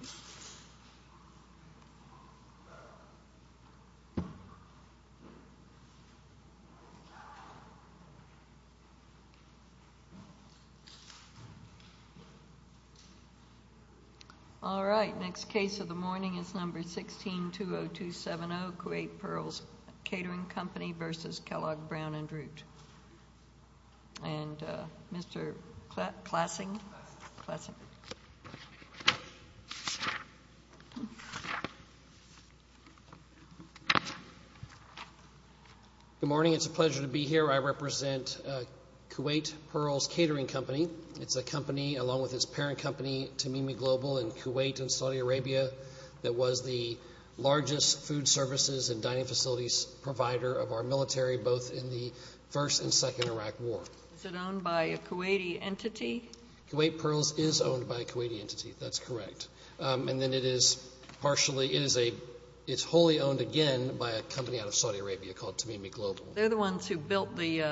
Root. All right, next case of the morning is number 16-20270, Kuwait Pearls Catering Company v. Kellogg Brown & Root. And Mr. Klassing. Good morning, it's a pleasure to be here. I represent Kuwait Pearls Catering Company. It's a company, along with its parent company Tamimi Global in Kuwait and Saudi Arabia, that was the largest food services and dining facilities provider of our military, both in the first and second Iraq war. Is it owned by a Kuwaiti entity? Kuwait Pearls is owned by a Kuwaiti entity, that's correct. And then it is partially, it is a, it's wholly owned again by a company out of Saudi Arabia called Tamimi Global. They're the ones who built the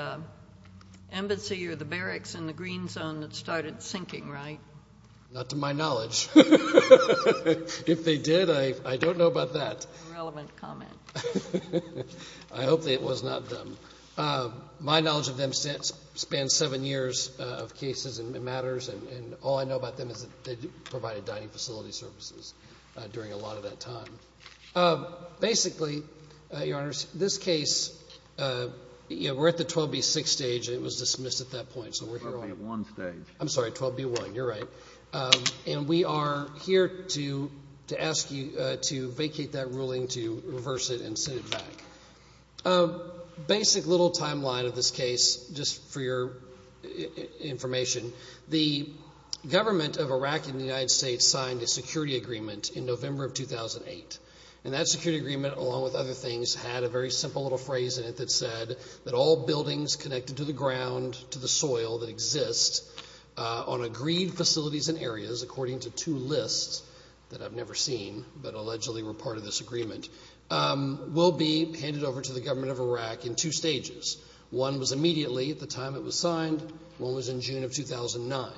embassy or the barracks in the green zone that started sinking, right? Not to my knowledge. If they did, I don't know about that. Irrelevant comment. I hope that it was not them. My knowledge of them spans seven years of cases and matters, and all I know about them is that they provided dining facility services during a lot of that time. Basically, Your Honor, this case, we're at the 12B6 stage, it was dismissed at that point. 12B1 stage. I'm sorry, 12B1, you're right. And we are here to ask you to vacate that ruling, to reverse it and send it back. Basic little timeline of this case, just for your information. The government of Iraq and the United States signed a security agreement in November of 2008. And that security agreement, along with other things, had a very simple little phrase in it that said that all buildings connected to the ground, to the soil that exists on agreed facilities and areas, according to two lists that I've never seen, but allegedly were part of this agreement, will be handed over to the government of Iraq in two stages. One was immediately, at the time it was signed, one was in June of 2009.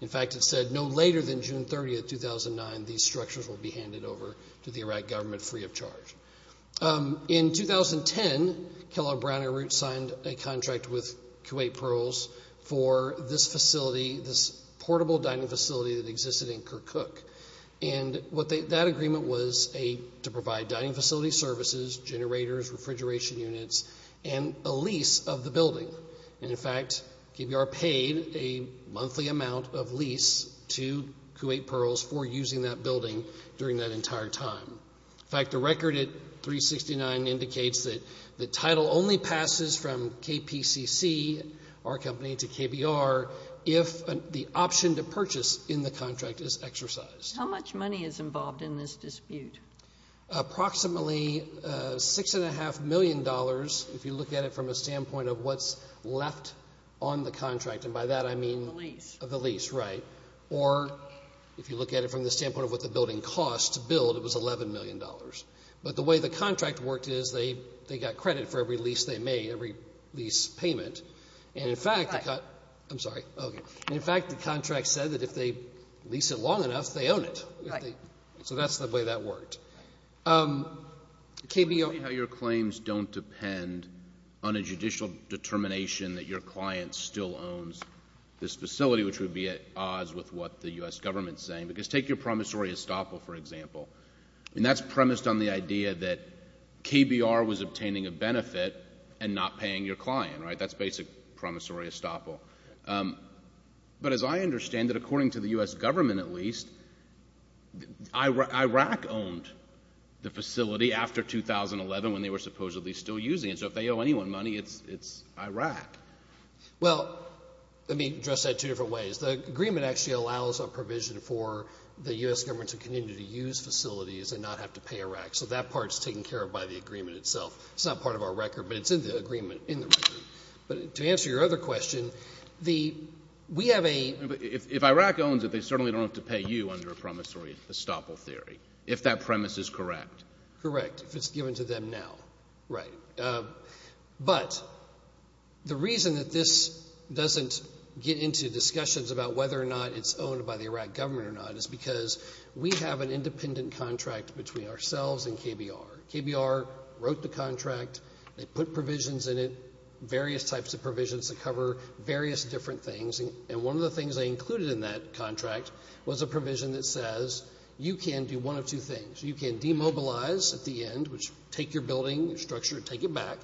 In fact, it said no later than June 30th, 2009, these structures will be handed over to the Iraq government free of charge. In 2010, Kellogg Brown and Kuwait Pearls for this facility, this portable dining facility that existed in Kirkuk. And that agreement was to provide dining facility services, generators, refrigeration units, and a lease of the building. And in fact, KBR paid a monthly amount of lease to Kuwait Pearls for using that building during that entire time. In fact, the record at 369 indicates that the title only passes from KPCC, our company, to KBR if the option to purchase in the contract is exercised. How much money is involved in this dispute? Approximately six and a half million dollars, if you look at it from a standpoint of what's left on the contract. And by that, I mean the lease, right. Or if you look at it from the standpoint of what the building cost to build, it was $11 million. But the way the they got credit for every lease they made, every lease payment. And in fact, I'm sorry. And in fact, the contract said that if they lease it long enough, they own it. So that's the way that worked. Explain how your claims don't depend on a judicial determination that your client still owns this facility, which would be at odds with what the U.S. government is saying. Because take your promissory estoppel, for example. And that's premised on the idea that KBR was obtaining a benefit and not paying your client, right. That's basic promissory estoppel. But as I understand it, according to the U.S. government at least, IRAC owned the facility after 2011 when they were supposedly still using it. So if they owe anyone money, it's IRAC. Well, let me address that two different ways. The agreement actually allows a provision for the U.S. government to continue to use facilities and not have to pay IRAC. So that is not part of our record, but it's in the agreement. But to answer your other question, we have a... If IRAC owns it, they certainly don't have to pay you under a promissory estoppel theory, if that premise is correct. Correct, if it's given to them now. Right. But the reason that this doesn't get into discussions about whether or not it's owned by the IRAC government or not is because we have an independent contract between ourselves and KBR. KBR wrote the contract, they put provisions in it, various types of provisions that cover various different things, and one of the things they included in that contract was a provision that says you can do one of two things. You can demobilize at the end, which take your building, your structure, take it back,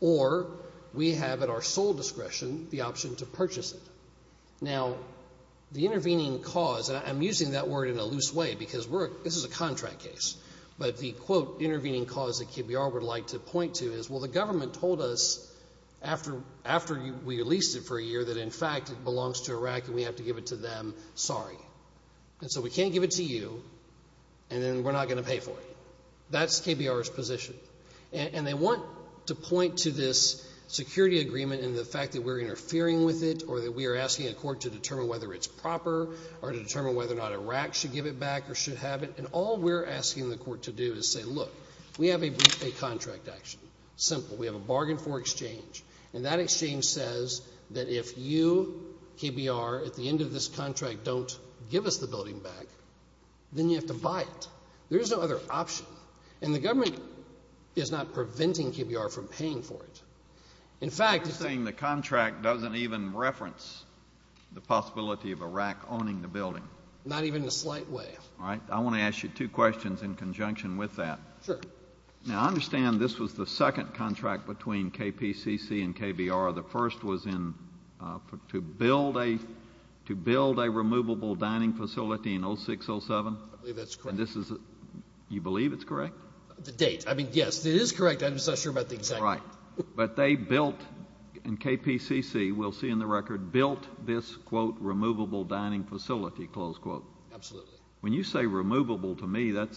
or we have at our sole discretion the option to purchase it. Now, the intervening cause, and I'm using that word in a loose way because this is a contract case, but the quote intervening cause that KBR would like to point to is, well, the government told us after we leased it for a year that in fact it belongs to IRAC and we have to give it to them, sorry. And so we can't give it to you, and then we're not going to pay for it. That's KBR's position. And they want to point to this security agreement and the fact that we're interfering with it or that we are asking a court to determine whether it's proper or to determine whether or not IRAC should give it back or should have it, and all we're asking the court to do is say, look, we have a contract action. Simple. We have a bargain for exchange, and that exchange says that if you, KBR, at the end of this contract don't give us the building back, then you have to buy it. There is no other option. And the government is not preventing KBR from paying for it. In fact, I'm just saying the contract doesn't even reference the possibility of IRAC owning the building. Not even in a slight way. All right. I want to ask you two questions in conjunction with that. Sure. Now, I understand this was the second contract between KPCC and KBR. The first was in, to build a, to build a removable dining facility in 06-07. I believe that's correct. And this is, you believe it's correct? The date. I mean, yes, it is correct. I'm saying they built, in KPCC, we'll see in the record, built this, quote, removable dining facility, close quote. Absolutely. When you say removable to me, that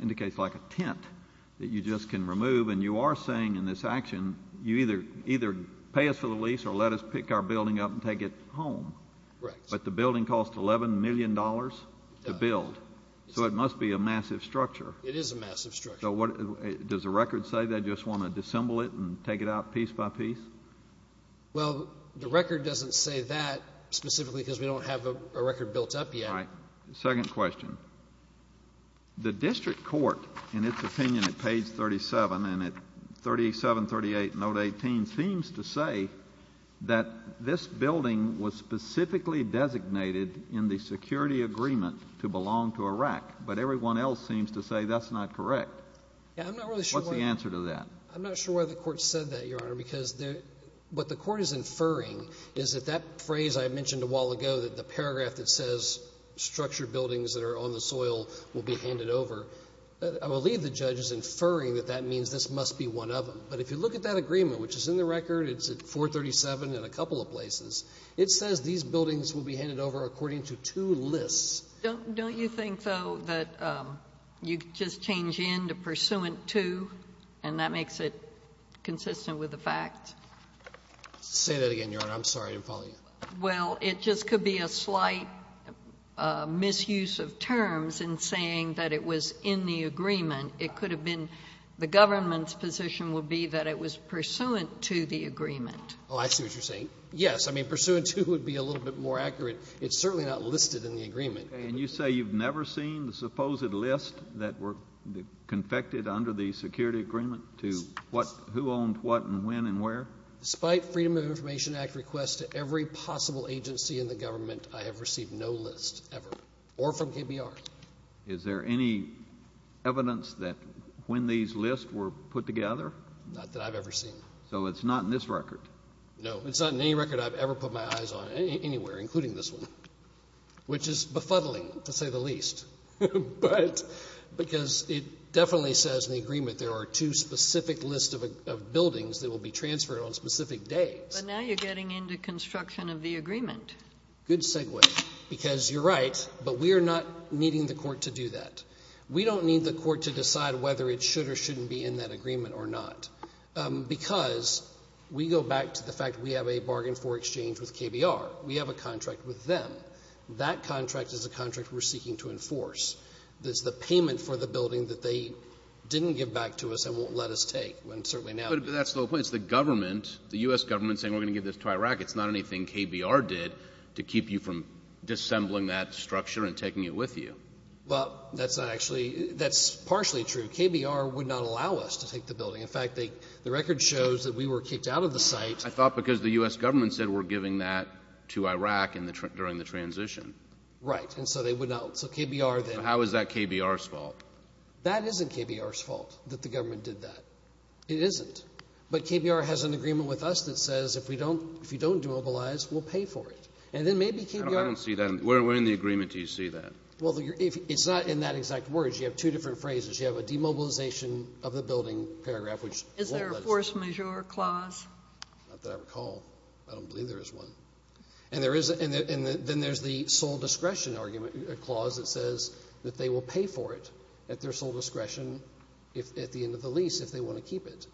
indicates like a tent that you just can remove. And you are saying in this action, you either, either pay us for the lease or let us pick our building up and take it home. Correct. But the building cost $11 million to build. So it must be a massive structure. It is a massive structure. So what, does the record say they just want to disassemble it and take it out piece by piece? Well, the record doesn't say that specifically because we don't have a record built up yet. All right. Second question. The district court, in its opinion at page 37 and at 37, 38, note 18, seems to say that this building was specifically designated in the security agreement to belong to Iraq. But everyone else seems to say that's not correct. Yeah, I'm not really sure. What's the answer to that? I'm not sure why the court said that, Your Honor, because there, what the court is inferring is that that phrase I mentioned a while ago, that the paragraph that says structured buildings that are on the soil will be handed over, I believe the judge is inferring that that means this must be one of them. But if you look at that agreement, which is in the record, it's at 437 and a couple of places, it says these buildings will be handed over according to two lists. Don't you think, though, that you just change in to pursuant to, and that makes it consistent with the fact? Say that again, Your Honor. I'm sorry. I didn't follow you. Well, it just could be a slight misuse of terms in saying that it was in the agreement. It could have been the government's position would be that it was pursuant to the agreement. Oh, I see what you're saying. Yes. I mean, pursuant to would be a little bit more accurate. It's certainly not listed in the agreement. And you say you've never seen the supposed list that were confected under the security agreement to what, who owned what and when and where? Despite Freedom of Information Act requests to every possible agency in the government, I have received no list ever, or from KBR. Is there any evidence that when these lists were put together? Not that I've had my eyes on anywhere, including this one, which is befuddling, to say the least. But because it definitely says in the agreement there are two specific lists of buildings that will be transferred on specific days. But now you're getting in to construction of the agreement. Good segue. Because you're right, but we are not needing the court to do that. We don't need the court to decide whether it should or shouldn't be in that KBR. We have a contract with them. That contract is a contract we're seeking to enforce. It's the payment for the building that they didn't give back to us and won't let us take. And certainly now... But that's the whole point. It's the government, the U.S. government saying we're going to give this to Iraq. It's not anything KBR did to keep you from disassembling that structure and taking it with you. Well, that's not actually, that's partially true. KBR would not allow us to take the building. In fact, the record shows that we were kicked out of the site. I thought because the U.S. government said we're giving that to Iraq during the transition. Right. And so they would not, so KBR then... So how is that KBR's fault? That isn't KBR's fault that the government did that. It isn't. But KBR has an agreement with us that says if we don't, if you don't demobilize, we'll pay for it. And then maybe KBR... I don't see that. Where in the agreement do you see that? Well, it's not in that exact words. You have two different phrases. You have a demobilization of the building paragraph Is there a force majeure clause? Not that I recall. I don't believe there is one. And there is, and then there's the sole discretion argument clause that says that they will pay for it at their sole discretion at the end of the lease if they want to keep it.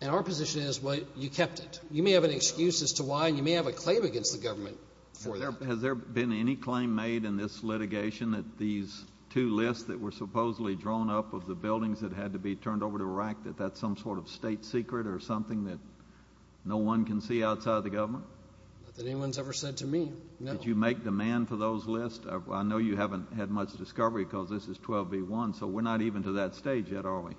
And our position is, well, you kept it. You may have an excuse as to why, and you may have a claim against the government for that. Has there been any claim made in this litigation that these two lists that were supposedly drawn up of the buildings that had to be turned over to Iraq, that that's some sort of state secret or something that no one can see outside of the government? Not that anyone's ever said to me, no. Did you make demand for those lists? I know you haven't had much discovery because this is 12b1, so we're not even to that stage yet, are we?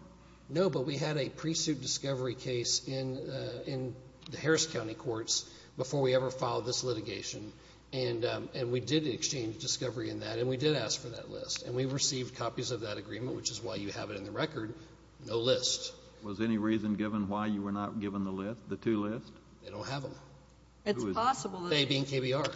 No, but we had a pre-suit discovery case in the Harris County Courts before we ever filed this litigation. And we did exchange discovery in that, and we did ask for that list. And we received copies of that agreement, which is why you have it on the record, no list. Was any reason given why you were not given the list, the two lists? They don't have them. It's possible. They being KBR.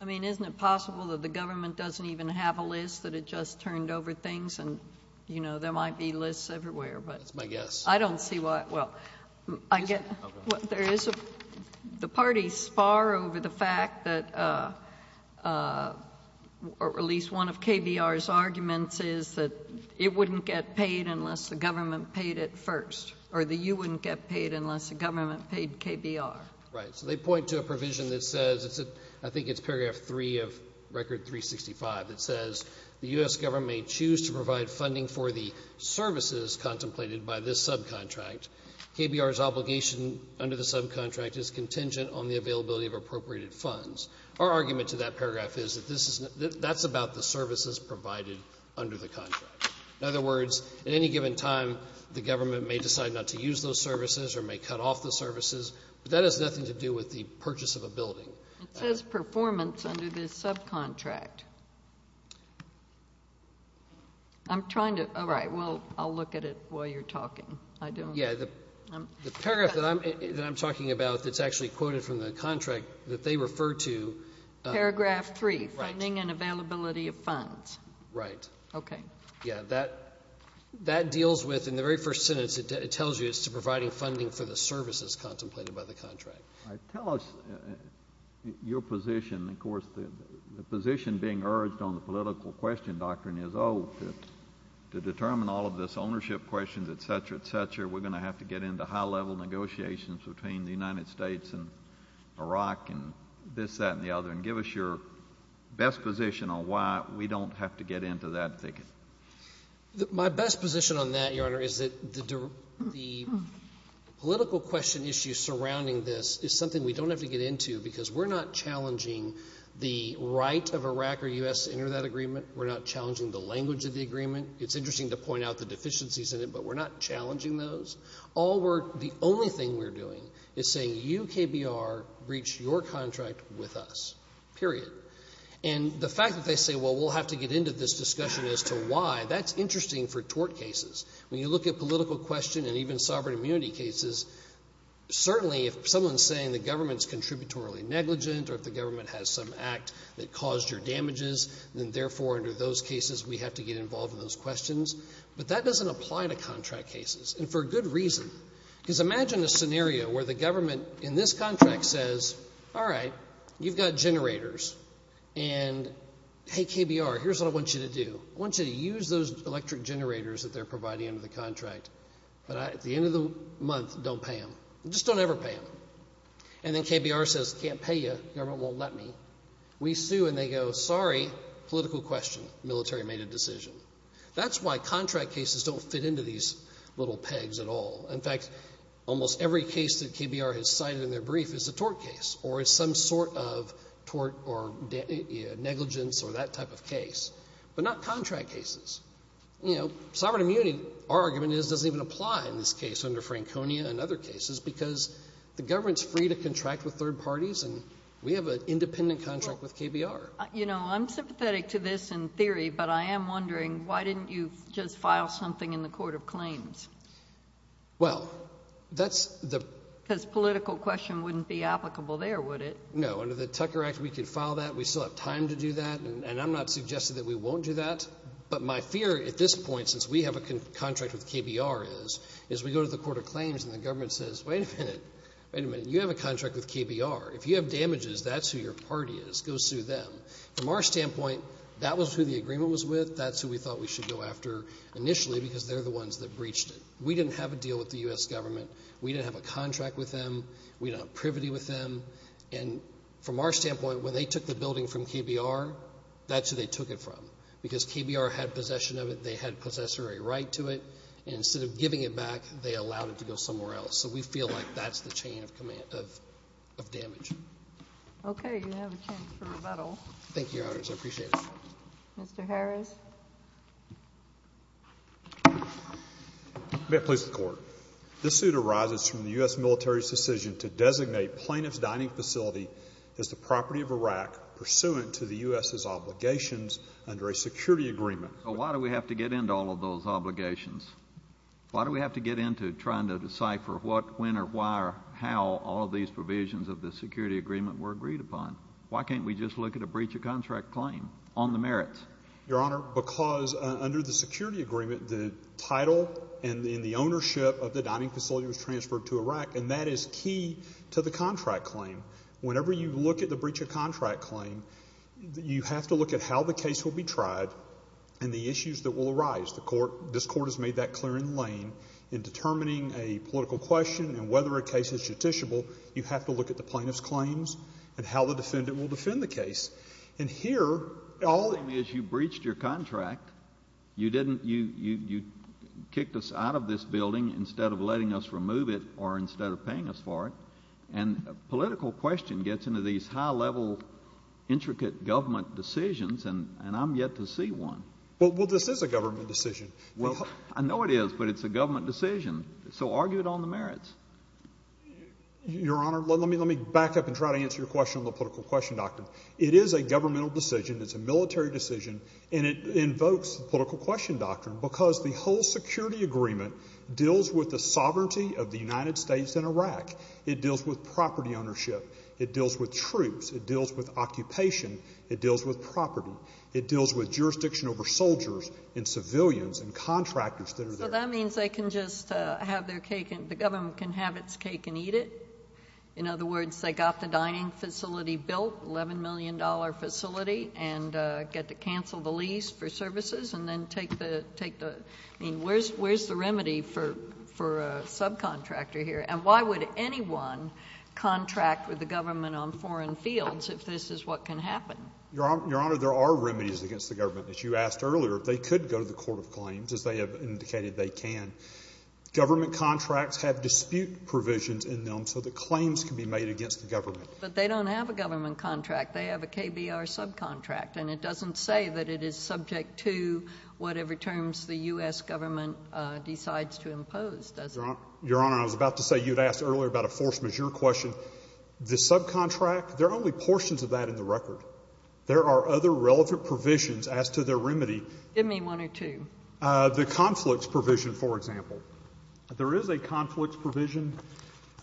I mean, isn't it possible that the government doesn't even have a list, that it just turned over things and, you know, there might be lists everywhere, but. That's my guess. I don't see why, well, I get, there is a, the party's far over the fact that at least one of KBR's arguments is that it wouldn't get paid unless the government paid it first, or the U wouldn't get paid unless the government paid KBR. Right, so they point to a provision that says, I think it's paragraph three of record 365 that says, the U.S. government may choose to provide funding for the services contemplated by this subcontract. KBR's obligation under the subcontract is contingent on the availability of appropriated funds. Our argument to that paragraph is that this is, that's about the services provided under the contract. In other words, at any given time, the government may decide not to use those services or may cut off the services, but that has nothing to do with the purchase of a building. It says performance under the subcontract. I'm trying to, all right, well, I'll look at it while you're talking. I don't. Yeah, the paragraph that I'm talking about that's actually quoted from the contract that they refer to. Paragraph three. Right. Funding and availability of funds. Right. Okay. Yeah, that, that deals with, in the very first sentence it tells you it's to providing funding for the services contemplated by the contract. All right, tell us your position, of course, the position being urged on the political question doctrine is, oh, to determine all of this ownership questions, et cetera, et cetera, we're going to have to get into high level negotiations between the United States and Iraq and this, that, and the other, and give us your best position on why we don't have to get into that thicket. My best position on that, Your Honor, is that the, the political question issue surrounding this is something we don't have to get into because we're not challenging the right of Iraq or U.S. to enter that agreement. We're not challenging the language of the agreement. It's interesting to point out the UKBR breached your contract with us. Period. And the fact that they say, well, we'll have to get into this discussion as to why, that's interesting for tort cases. When you look at political question and even sovereign immunity cases, certainly if someone's saying the government's contributory negligent or if the government has some act that caused your damages, then therefore under those cases we have to get involved in those questions. But that doesn't apply to contract cases. And for a good reason. Because imagine a scenario where the government in this contract says, all right, you've got generators. And, hey, KBR, here's what I want you to do. I want you to use those electric generators that they're providing under the contract. But at the end of the month, don't pay them. Just don't ever pay them. And then KBR says, can't pay you. Government won't let me. We sue and they go, sorry, political question. Military made a decision. That's why contract cases don't fit into these little pegs at all. In fact, almost every case that KBR has cited in their brief is a tort case or is some sort of tort or negligence or that type of case. But not contract cases. Sovereign immunity, our argument is, doesn't even apply in this case under Franconia and other cases because the government's free to contract with third parties and we have an independent contract with KBR. You know, I'm sympathetic to this in theory, but I am wondering, why didn't you just file something in the Court of Claims? Well, that's the. Because political question wouldn't be applicable there, would it? No. Under the Tucker Act, we could file that. We still have time to do that. And I'm not suggesting that we won't do that. But my fear at this point, since we have a contract with KBR is, is we go to the Court of Claims and the government says, wait a minute, wait a minute, you have a contract with KBR. If you have damages, that's who your party is. Go sue them. From our standpoint, that was who the agreement was with. That's who we thought we should go after initially because they're the ones that breached it. We didn't have a deal with the U.S. government. We didn't have a contract with them. We didn't have privity with them. And from our standpoint, when they took the building from KBR, that's who they took it from. Because KBR had possession of it. They had possessory right to it. And instead of giving it back, they allowed it to go somewhere else. So we feel like that's the chain of command, of damage. Okay. You have a chance for rebuttal. Thank you, Your Honors. I appreciate it. Mr. Harris. May it please the Court. This suit arises from the U.S. military's decision to designate plaintiff's dining facility as the property of Iraq pursuant to the U.S.'s obligations under a security agreement. But why do we have to get into all of those obligations? Why do we have to get into trying to decipher what, when, or why, or how all of these provisions of the security agreement were agreed upon? Why can't we just look at a breach of contract claim on the merits? Your Honor, because under the security agreement, the title and the ownership of the dining facility was transferred to Iraq, and that is key to the contract claim. Whenever you look at the breach of contract claim, you have to look at how the case will be tried and the issues that will arise. This Court has made that clear in Lane. In determining a political question and whether a case is judiciable, you have to look at the plaintiff's claims and how the defendant will defend the case. And here, all— The claim is you breached your contract. You kicked us out of this building instead of me. Well, this is a government decision. Well, I know it is, but it's a government decision. So argue it on the merits. Your Honor, let me back up and try to answer your question on the political question doctrine. It is a governmental decision. It's a military decision. And it invokes the political question doctrine because the whole security agreement deals with the sovereignty of the United States and Iraq. It deals with property ownership. It deals with troops. It deals with occupation. It deals with property. It deals with jurisdiction over soldiers and civilians and contractors that are there. So that means they can just have their cake—the government can have its cake and eat it? In other words, they got the dining facility built, $11 million facility, and get to cancel the lease for services and then take the—I mean, where's the remedy for a subcontractor here? And why would anyone contract with the government on foreign fields if this is what can happen? Your Honor, there are remedies against the government. As you asked earlier, they could go to the court of claims, as they have indicated they can. Government contracts have dispute provisions in them so that claims can be made against the government. But they don't have a government contract. They have a KBR subcontract. And it doesn't say that it is subject to whatever terms the U.S. government decides to impose, does it? Your Honor, I was about to say you had asked earlier about a force majeure question. The subcontract, there are only portions of that in the record. There are other relevant provisions as to the remedy. Give me one or two. The conflicts provision, for example. There is a conflicts provision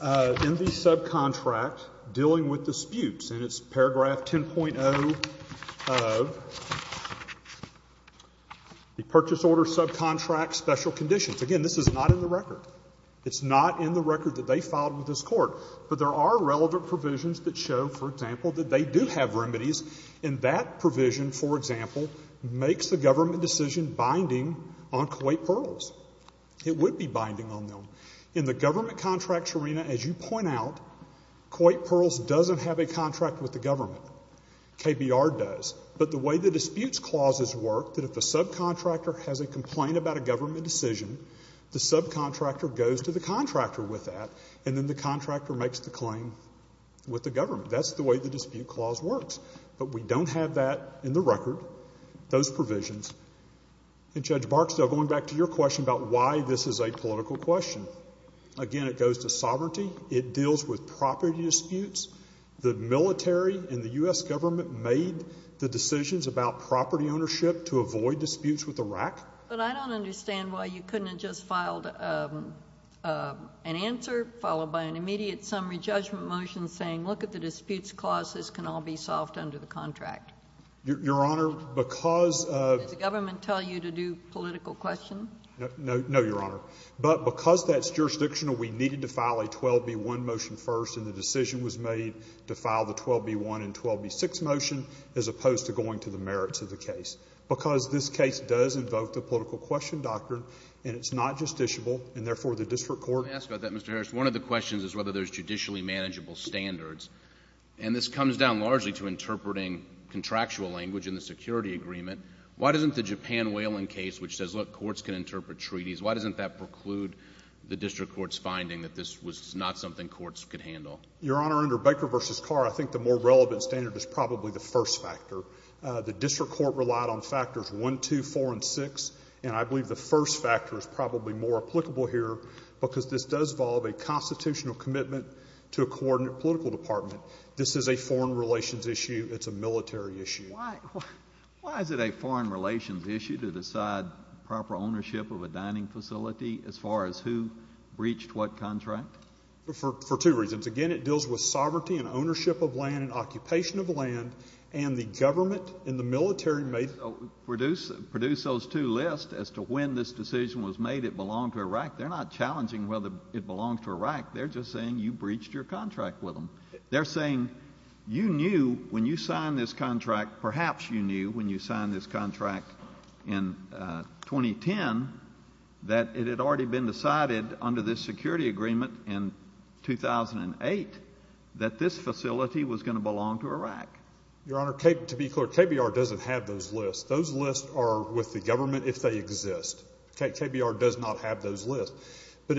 in the subcontract dealing with disputes. And it's paragraph 10.0 of the Purchase Order Subcontract Special Conditions. Again, this is not in the record that they filed with this court. But there are relevant provisions that show, for example, that they do have remedies. And that provision, for example, makes the government decision binding on Kuwait Pearls. It would be binding on them. In the government contracts arena, as you point out, Kuwait Pearls doesn't have a contract with the government. KBR does. But the way the disputes clauses work, that if a subcontractor has a complaint about a government decision, the subcontractor goes to the contractor with that, and then the contractor makes the claim with the government. That's the way the dispute clause works. But we don't have that in the record, those provisions. And Judge Barksdale, going back to your question about why this is a political question. Again, it goes to sovereignty. It deals with property disputes. The military and the U.S. But I don't understand why you couldn't have just filed an answer followed by an immediate summary judgment motion saying, look at the disputes clause. This can all be solved under the contract. Your Honor, because of — Did the government tell you to do political questions? No, Your Honor. But because that's jurisdictional, we needed to file a 12B1 motion first, and the decision was made to file the 12B1 and 12B6 motion as opposed to going to the merits of the case. Because this case does invoke the political question doctrine, and it's not justiciable, and therefore the district court — Let me ask about that, Mr. Harris. One of the questions is whether there's judicially manageable standards. And this comes down largely to interpreting contractual language in the security agreement. Why doesn't the Japan whaling case, which says, look, courts can interpret treaties, why doesn't that preclude the district court's finding that this was not something courts could handle? Your Honor, under Baker v. Carr, I think the more relevant standard is probably the first factor. The court relied on factors 1, 2, 4, and 6, and I believe the first factor is probably more applicable here because this does involve a constitutional commitment to a coordinate political department. This is a foreign relations issue. It's a military issue. Why is it a foreign relations issue to decide proper ownership of a dining facility as far as who breached what contract? For two reasons. Again, it deals with sovereignty and ownership of land and occupation of land, and the government and the military may produce those two lists as to when this decision was made it belonged to Iraq. They're not challenging whether it belonged to Iraq. They're just saying you breached your contract with them. They're saying you knew when you signed this contract, perhaps you knew when you signed this contract in 2010, that it had already been decided under this security agreement in 2008 that this facility was going to belong to Iraq. Your Honor, to be clear, KBR doesn't have those lists. Those lists are with the government if they exist. KBR does not have those lists. But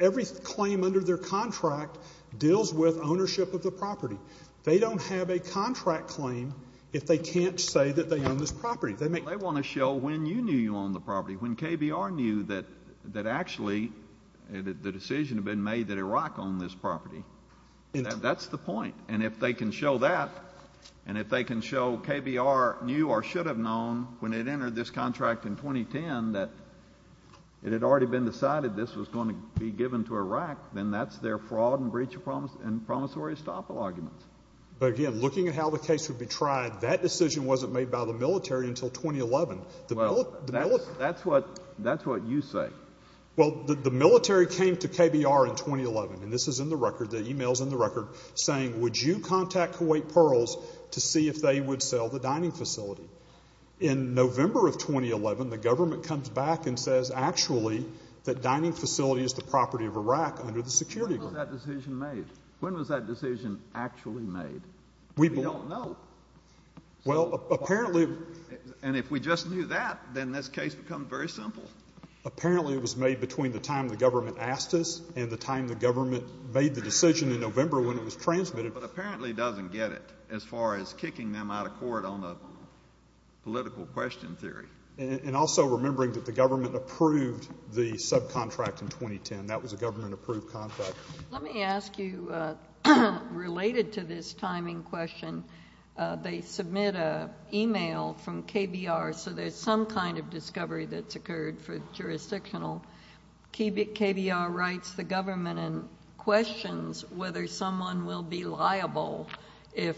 every claim under their contract deals with ownership of the property. They don't have a contract claim if they can't say that they own this property. They want to show when you knew you owned the property, when KBR knew that actually the decision had been made that Iraq owned this property. That's the point. And if they can show that, and if they can show KBR knew or should have known when it entered this contract in 2010 that it had already been decided this was going to be given to Iraq, then that's their fraud and breach of promise and promissory estoppel arguments. But, again, looking at how the case would be tried, that decision wasn't made by the military until 2011. Well, that's what you say. Well, the military came to KBR in 2011, and this is in the record, the e-mail is in the record, and they contact Kuwait Pearls to see if they would sell the dining facility. In November of 2011, the government comes back and says actually that dining facility is the property of Iraq under the security agreement. When was that decision made? When was that decision actually made? We don't know. Well, apparently And if we just knew that, then this case becomes very simple. Apparently it was made between the time the government asked us and the time the government made the decision in November when it was transmitted. But apparently doesn't get it as far as kicking them out of court on a political question theory. And also remembering that the government approved the subcontract in 2010. That was a government-approved contract. Let me ask you, related to this timing question, they submit an e-mail from KBR, so there's some kind of discovery that's occurred for jurisdictional. KBR writes the government and questions whether someone will be liable if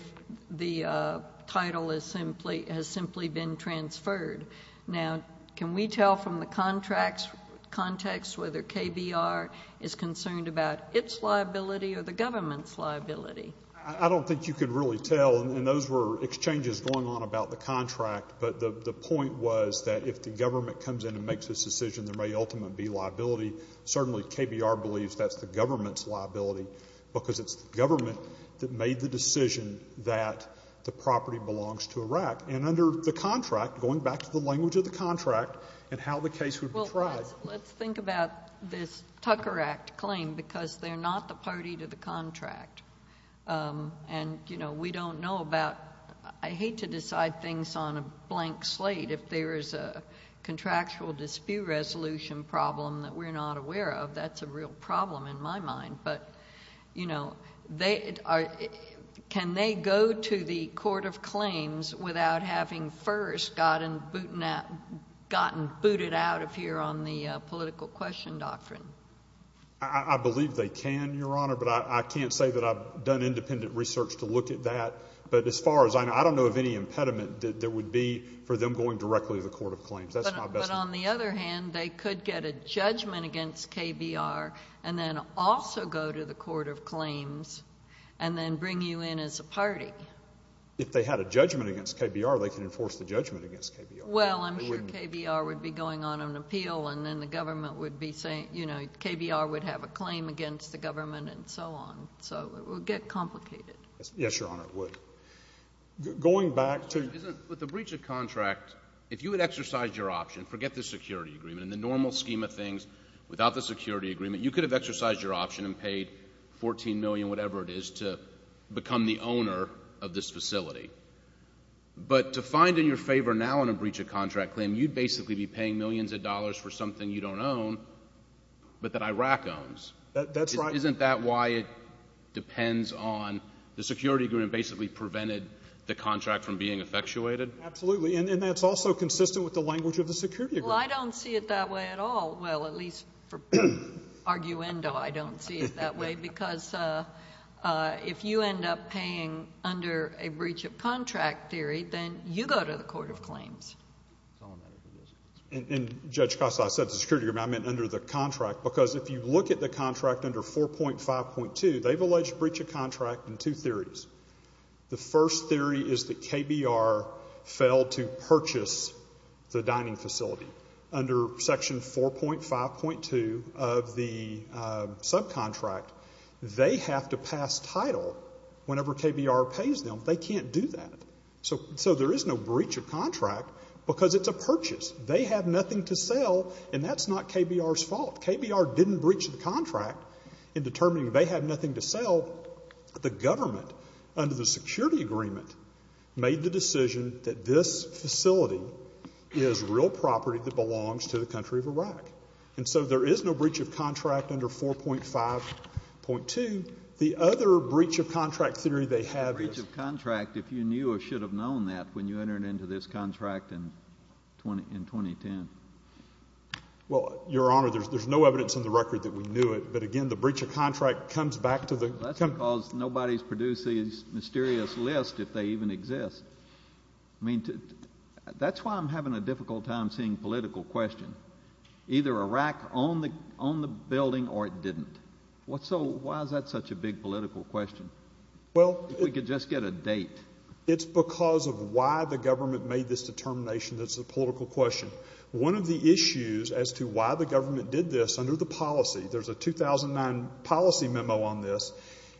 the title has simply been transferred. Now, can we tell from the contracts context whether KBR is concerned about its liability or the government's liability? I don't think you could really tell. And those were exchanges going on about the contract. But the point was that if the government comes in and makes this decision, there may ultimately be liability. Certainly KBR believes that's the government's liability because it's the government that made the decision that the property belongs to Iraq. And under the contract, going back to the language of the contract and how the case would be tried. Well, let's think about this Tucker Act claim because they're not the party to the contract. And, you know, we don't know about, I hate to decide things on a blank slate. If there is a contractual dispute resolution problem that we're not aware of, that's a real problem in my mind. But, you know, can they go to the court of claims without having first gotten booted out of here on the political question doctrine? I believe they can, Your Honor, but I can't say that I've done independent research to look at that. But as far as I know, I don't know of any impediment that there would be for them going directly to the court of claims. But on the other hand, they could get a judgment against KBR and then also go to the court of claims and then bring you in as a party. If they had a judgment against KBR, they could enforce the judgment against KBR. Well, I'm sure KBR would be going on an appeal and then the government would be saying, you know, KBR would have a claim against the government and so on. So it would get complicated. Yes, Your Honor, it would. Going back to... With the breach of contract, if you had exercised your option, forget the security agreement, in the normal scheme of things, without the security agreement, you could have exercised your option and paid $14 million, whatever it is, to become the owner of this facility. But to find in your favor now in a breach of contract claim, you'd basically be paying millions of dollars for something you don't own, but that Iraq owns. That's right. Isn't that why it depends on the security agreement basically prevented the contract from being effectuated? Absolutely. And that's also consistent with the language of the security agreement. Well, I don't see it that way at all. Well, at least for arguendo, I don't see it that way, because if you end up paying under a breach of contract theory, then you go to the Court of Claims. And Judge Costa, I said the security agreement, I meant under the contract, because if you look at the contract under 4.5.2, they've alleged breach of contract in two theories. The first theory is that KBR failed to purchase the dining facility. Under Section 4.5.2 of the subcontract, they have to pass title whenever KBR pays them. They can't do that. So there is no breach of contract because it's a purchase. They have nothing to sell, and that's not KBR's fault. KBR didn't breach the contract in determining they have nothing to sell. The government, under the security agreement, made the decision that this facility is real property that belongs to the country of Iraq. And so there is no breach of contract under 4.5.2. The other breach of contract theory they have is... A breach of contract, if you knew or should have known that when you entered into this contract in 2010. Well, Your Honor, there's no evidence in the record that we knew it, but again, the breach of contract comes back to the... That's because nobody's produced these mysterious lists if they even exist. I mean, that's why I'm having a difficult time seeing political question. Either Iraq owned the building or it didn't. So why is that such a big political question? If we could just get a date. It's because of why the government made this determination that's a political question. One of the issues as to why the government did this under the policy, there's a 2009 policy memo on this,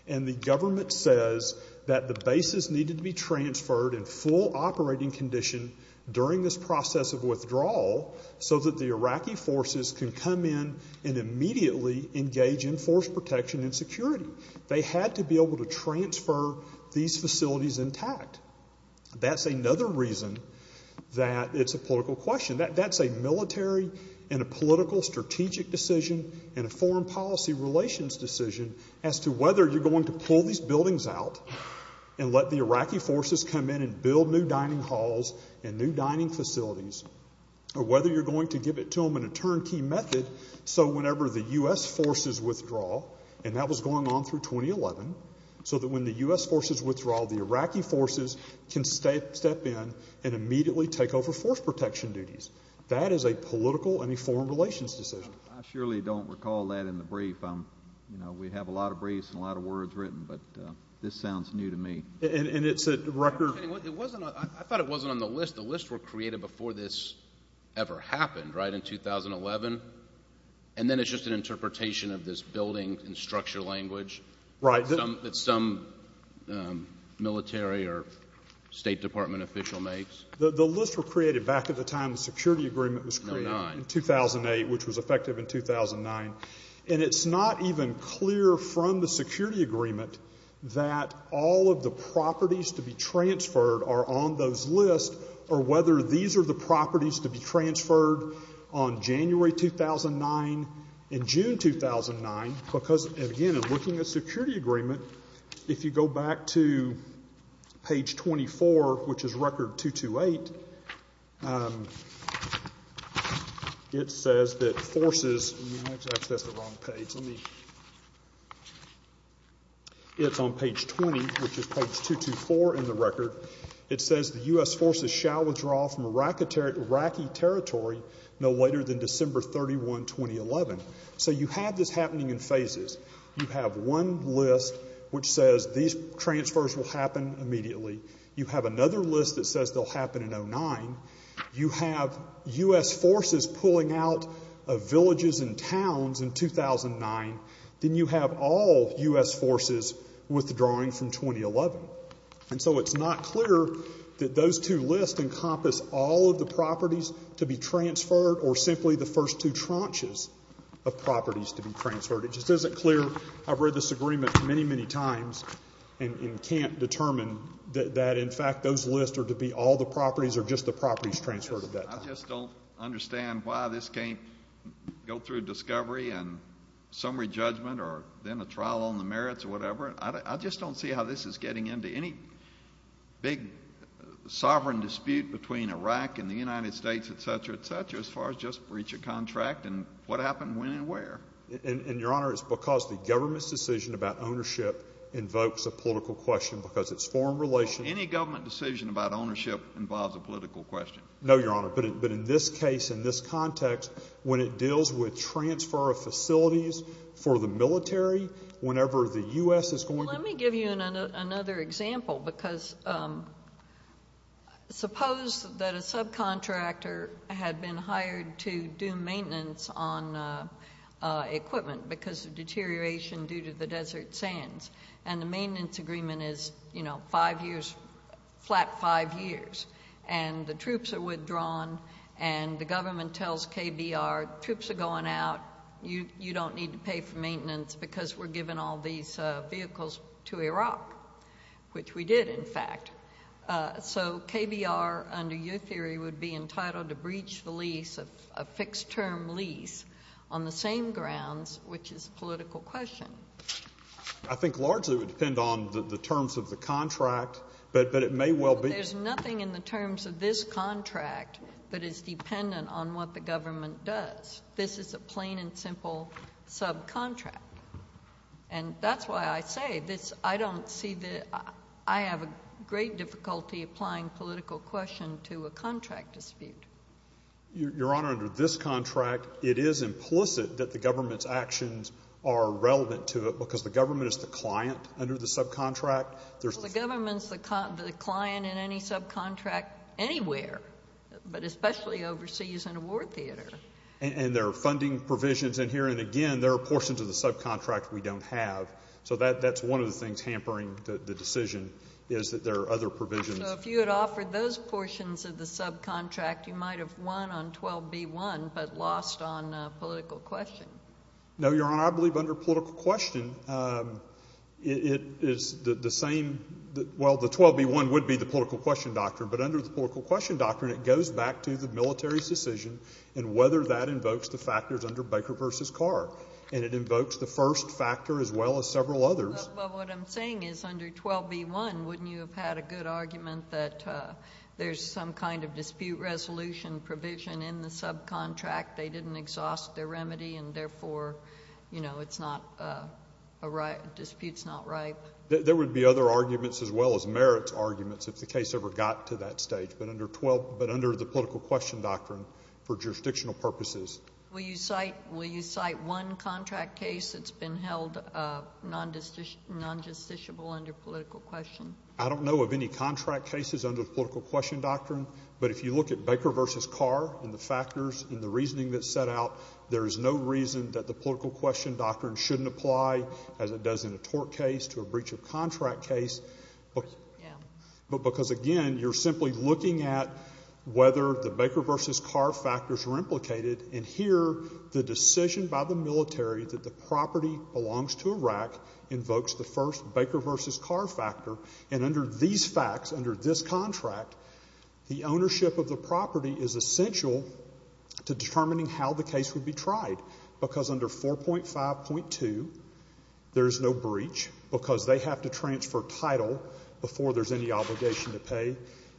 and the government says that the bases needed to be transferred in full operating condition during this process of withdrawal so that the Iraqi forces can come in and immediately engage in force protection and security. They had to be able to transfer these facilities intact. That's another reason that it's a political question. That's a military and a political strategic decision and a foreign policy relations decision as to whether you're going to pull these buildings out and let the Iraqi forces come in and build new dining halls and new dining facilities, or whether you're going to give it to them in a turnkey method so whenever the U.S. forces withdraw, and that was going on through 2011, so that when the U.S. forces withdraw, the Iraqi forces can step in and immediately take over force protection duties. That is a political and a foreign relations decision. I surely don't recall that in the brief. We have a lot of briefs and a lot of words written, but this sounds new to me. And it's a record... I thought it wasn't on the list. The lists were created before this ever happened, right, in 2011? And then it's just an interpretation of this building and structure language that some military or State Department official makes? The lists were created back at the time the security agreement was created in 2008, which was effective in 2009, and it's not even clear from the security agreement that all of the properties to be transferred are on those lists or whether these are the properties to be transferred on January 2009 and June 2009 because, again, in looking at the security agreement, if you go back to page 24, which is record 228, it says that forces... That's the wrong page. It's on page 20, which is page 224 in the record. It says the U.S. forces shall withdraw from Iraqi territory no later than December 31, 2011. So you have this happening in phases. You have one list which says these transfers will happen immediately. You have another list that says they'll happen in 2009. You have U.S. forces pulling out of villages and towns in 2009. Then you have all U.S. forces withdrawing from 2011. And so it's not clear that those two lists encompass all of the properties to be transferred or simply the first two tranches of properties to be transferred. It just isn't clear. I've read this agreement many, many times and can't determine that, in fact, those lists are to be all the properties or just the properties transferred at that time. I just don't understand why this can't go through discovery and summary judgment or then a trial on the merits or whatever. I just don't see how this is getting into any big sovereign dispute between Iraq and the United States, et cetera, et cetera, as far as just breach of contract and what happened when and where. And, Your Honor, it's because the government's decision about ownership invokes a political question because it's foreign relations. Any government decision about ownership involves a political question. No, Your Honor, but in this case, in this context, when it deals with transfer of facilities for the military, whenever the U.S. is going to- Let me give you another example because suppose that a subcontractor had been hired to do maintenance on equipment because of deterioration due to the desert sands and the maintenance agreement is five years, flat five years, and the troops are withdrawn and the government tells KBR, Troops are going out. You don't need to pay for maintenance because we're giving all these vehicles to Iraq, which we did, in fact. So KBR, under your theory, would be entitled to breach the lease, a fixed-term lease, on the same grounds, which is a political question. I think largely it would depend on the terms of the contract, but it may well be- But there's nothing in the terms of this contract that is dependent on what the government does. This is a plain and simple subcontract. And that's why I say this, I don't see the- I have a great difficulty applying political question to a contract dispute. Your Honor, under this contract, it is implicit that the government's actions are relevant to it because the government is the client under the subcontract. The government's the client in any subcontract anywhere, but especially overseas in a war theater. And there are funding provisions in here, and again, there are portions of the subcontract we don't have. So that's one of the things hampering the decision, is that there are other provisions. So if you had offered those portions of the subcontract, you might have won on 12b-1 but lost on political question. No, Your Honor, I believe under political question, it is the same- Well, the 12b-1 would be the political question doctrine, but under the political question doctrine, it goes back to the military's decision and whether that invokes the factors under Baker v. Carr. And it invokes the first factor as well as several others. Well, what I'm saying is under 12b-1, wouldn't you have had a good argument that there's some kind of dispute resolution provision in the subcontract? They didn't exhaust their remedy, and therefore, you know, it's not a right. The dispute's not right. There would be other arguments as well as merits arguments if the case ever got to that stage, but under the political question doctrine, for jurisdictional purposes. Will you cite one contract case that's been held non-justiciable under political question? I don't know of any contract cases under the political question doctrine, but if you look at Baker v. Carr and the factors and the reasoning that's set out, there is no reason that the political question doctrine shouldn't apply as it does in a tort case to a breach of contract case. But because, again, you're simply looking at whether the Baker v. Carr factors are implicated, and here, the decision by the military that the property belongs to Iraq invokes the first Baker v. Carr factor, and under these facts, under this contract, the ownership of the property is essential to determining how the case would be tried, because under 4.5.2, there's no breach because they have to transfer title before there's any obligation to pay,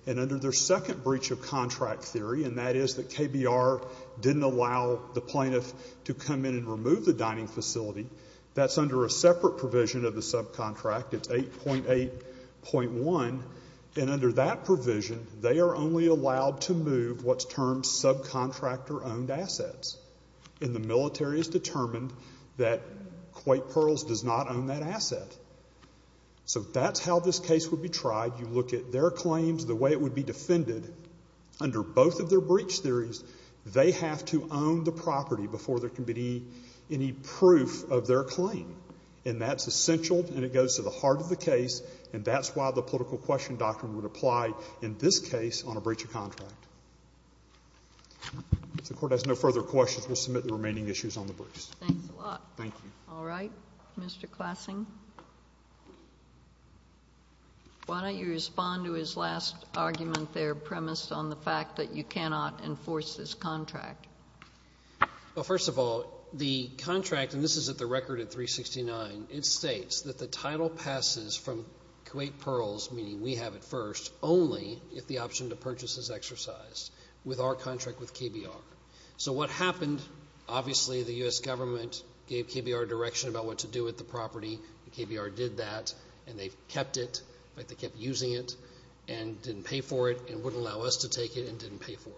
and under their second breach of contract theory, and that is that KBR didn't allow the plaintiff to come in and remove the dining facility, that's under a separate provision of the subcontract. It's 8.8.1, and under that provision, they are only allowed to move what's termed subcontractor-owned assets, and the military has determined that Quake Pearls does not own that asset. So that's how this case would be tried. You look at their claims, the way it would be defended. Under both of their breach theories, they have to own the property before there can be any proof of their claim, and that's essential, and it goes to the heart of the case, and that's why the political question doctrine would apply in this case on a breach of contract. If the Court has no further questions, we'll submit the remaining issues on the breach. Thank you. All right. Mr. Klassing? Why don't you respond to his last argument there, premised on the fact that you cannot enforce this contract? Well, first of all, the contract, and this is at the record at 369, it states that the title passes from Quake Pearls, meaning we have it first, only if the option to purchase is exercised with our contract with KBR. So what happened, obviously, the U.S. government gave KBR direction about what to do with the property, and KBR did that, and they kept it, but they kept using it and didn't pay for it and wouldn't allow us to take it and didn't pay for it.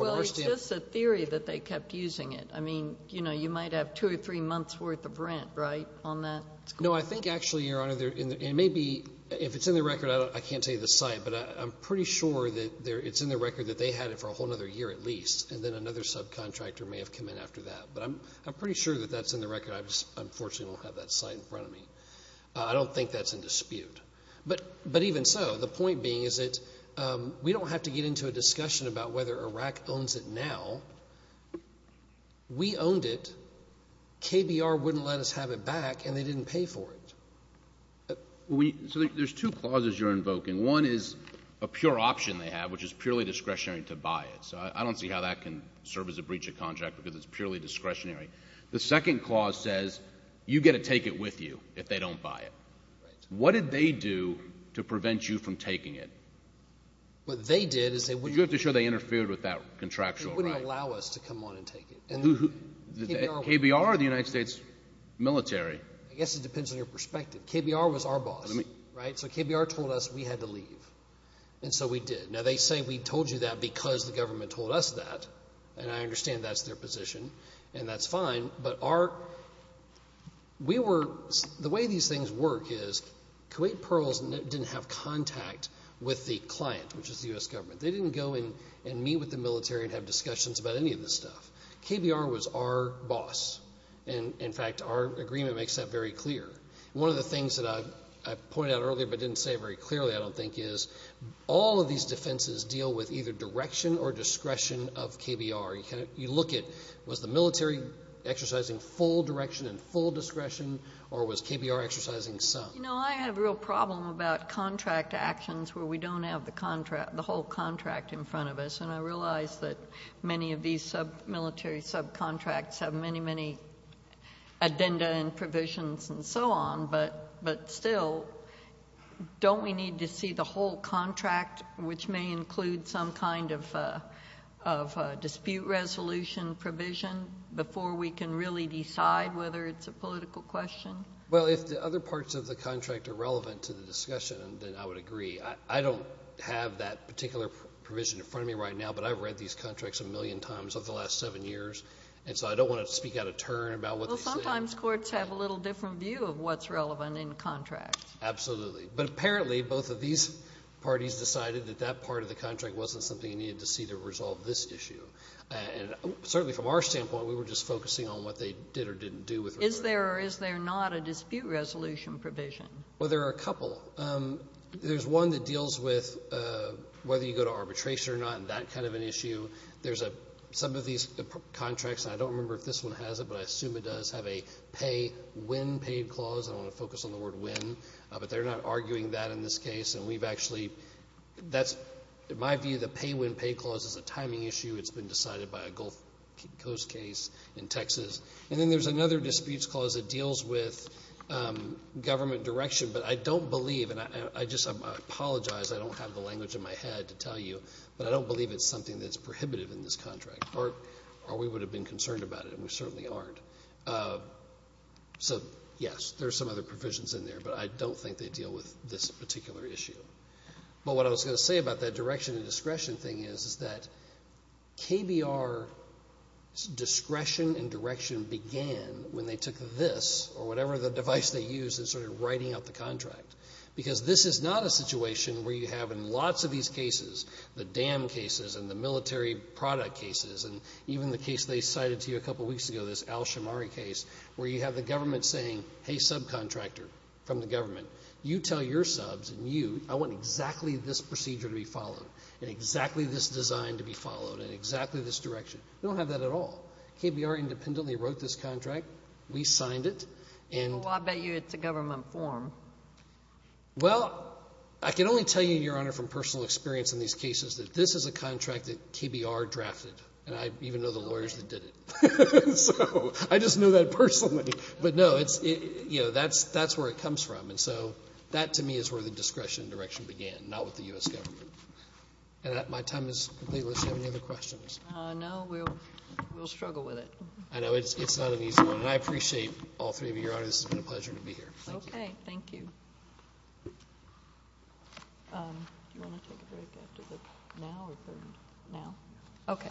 Well, it's just a theory that they kept using it. I mean, you might have two or three months' worth of rent, right, on that? No, I think actually, Your Honor, it may be, if it's in the record, I can't tell you the site, but I'm pretty sure that it's in the record that they had it for a whole other year at least, and then another subcontractor may have come in after that. But I'm pretty sure that that's in the record. I just unfortunately don't have that site in front of me. I don't think that's in dispute. But even so, the point being is that we don't have to get into a discussion about whether Iraq owns it now. We owned it. KBR wouldn't let us have it back, and they didn't pay for it. So there's two clauses you're invoking. One is a pure option they have, which is purely discretionary to buy it. So I don't see how that can serve as a breach of contract because it's purely discretionary. The second clause says you get to take it with you if they don't buy it. What did they do to prevent you from taking it? What they did is they wouldn't allow us to come on and take it. KBR or the United States military? I guess it depends on your perspective. KBR was our boss, right? So KBR told us we had to leave, and so we did. Now, they say we told you that because the government told us that, and I understand that's their position, and that's fine. But the way these things work is Kuwait Pearls didn't have contact with the client, which is the U.S. government. They didn't go and meet with the military and have discussions about any of this stuff. KBR was our boss. In fact, our agreement makes that very clear. One of the things that I pointed out earlier but didn't say very clearly, I don't think, is all of these defenses deal with either direction or discretion of KBR. You look at was the military exercising full direction and full discretion, or was KBR exercising some? You know, I have a real problem about contract actions where we don't have the whole contract in front of us, and I realize that many of these military subcontracts have many, many addenda and provisions and so on, but still, don't we need to see the whole contract, which may include some kind of dispute resolution provision before we can really decide whether it's a political question? Well, if the other parts of the contract are relevant to the discussion, then I would agree. I don't have that particular provision in front of me right now, but I've read these contracts a million times over the last seven years, and so I don't want to speak out of turn about what they say. Well, sometimes courts have a little different view of what's relevant in contracts. Absolutely. But apparently both of these parties decided that that part of the contract wasn't something you needed to see to resolve this issue. And certainly from our standpoint, we were just focusing on what they did or didn't do with regard to it. Is there or is there not a dispute resolution provision? Well, there are a couple. There's one that deals with whether you go to arbitration or not and that kind of an issue. There's some of these contracts, and I don't remember if this one has it, but I assume it does, have a pay when paid clause. I don't want to focus on the word when, but they're not arguing that in this case, and we've actually, that's my view, the pay when paid clause is a timing issue. It's been decided by a Gulf Coast case in Texas. And then there's another disputes clause that deals with government direction, but I don't believe, and I just apologize, I don't have the language in my head to tell you, but I don't believe it's something that's prohibitive in this contract or we would have been concerned about it, and we certainly aren't. So, yes, there's some other provisions in there, but I don't think they deal with this particular issue. But what I was going to say about that direction and discretion thing is that KBR's discretion and direction began when they took this or whatever the device they used in sort of writing out the contract, because this is not a situation where you have in lots of these cases, the dam cases and the military product cases, and even the case they cited to you a couple of weeks ago, this Al-Shamari case, where you have the government saying, hey, subcontractor from the government, you tell your subs and you, I want exactly this procedure to be followed and exactly this design to be followed and exactly this direction. We don't have that at all. KBR independently wrote this contract. We signed it. Well, I bet you it's a government form. Well, I can only tell you, Your Honor, from personal experience in these cases that this is a contract that KBR drafted, and I even know the lawyers that did it. So I just know that personally. But, no, it's, you know, that's where it comes from. And so that to me is where the discretion and direction began, not with the U.S. government. And my time is completely up. Do you have any other questions? No. We'll struggle with it. I know. It's not an easy one. And I appreciate all three of you, Your Honor. This has been a pleasure to be here. Thank you. Okay. Thank you. Do you want to take a break after this now or now? Okay.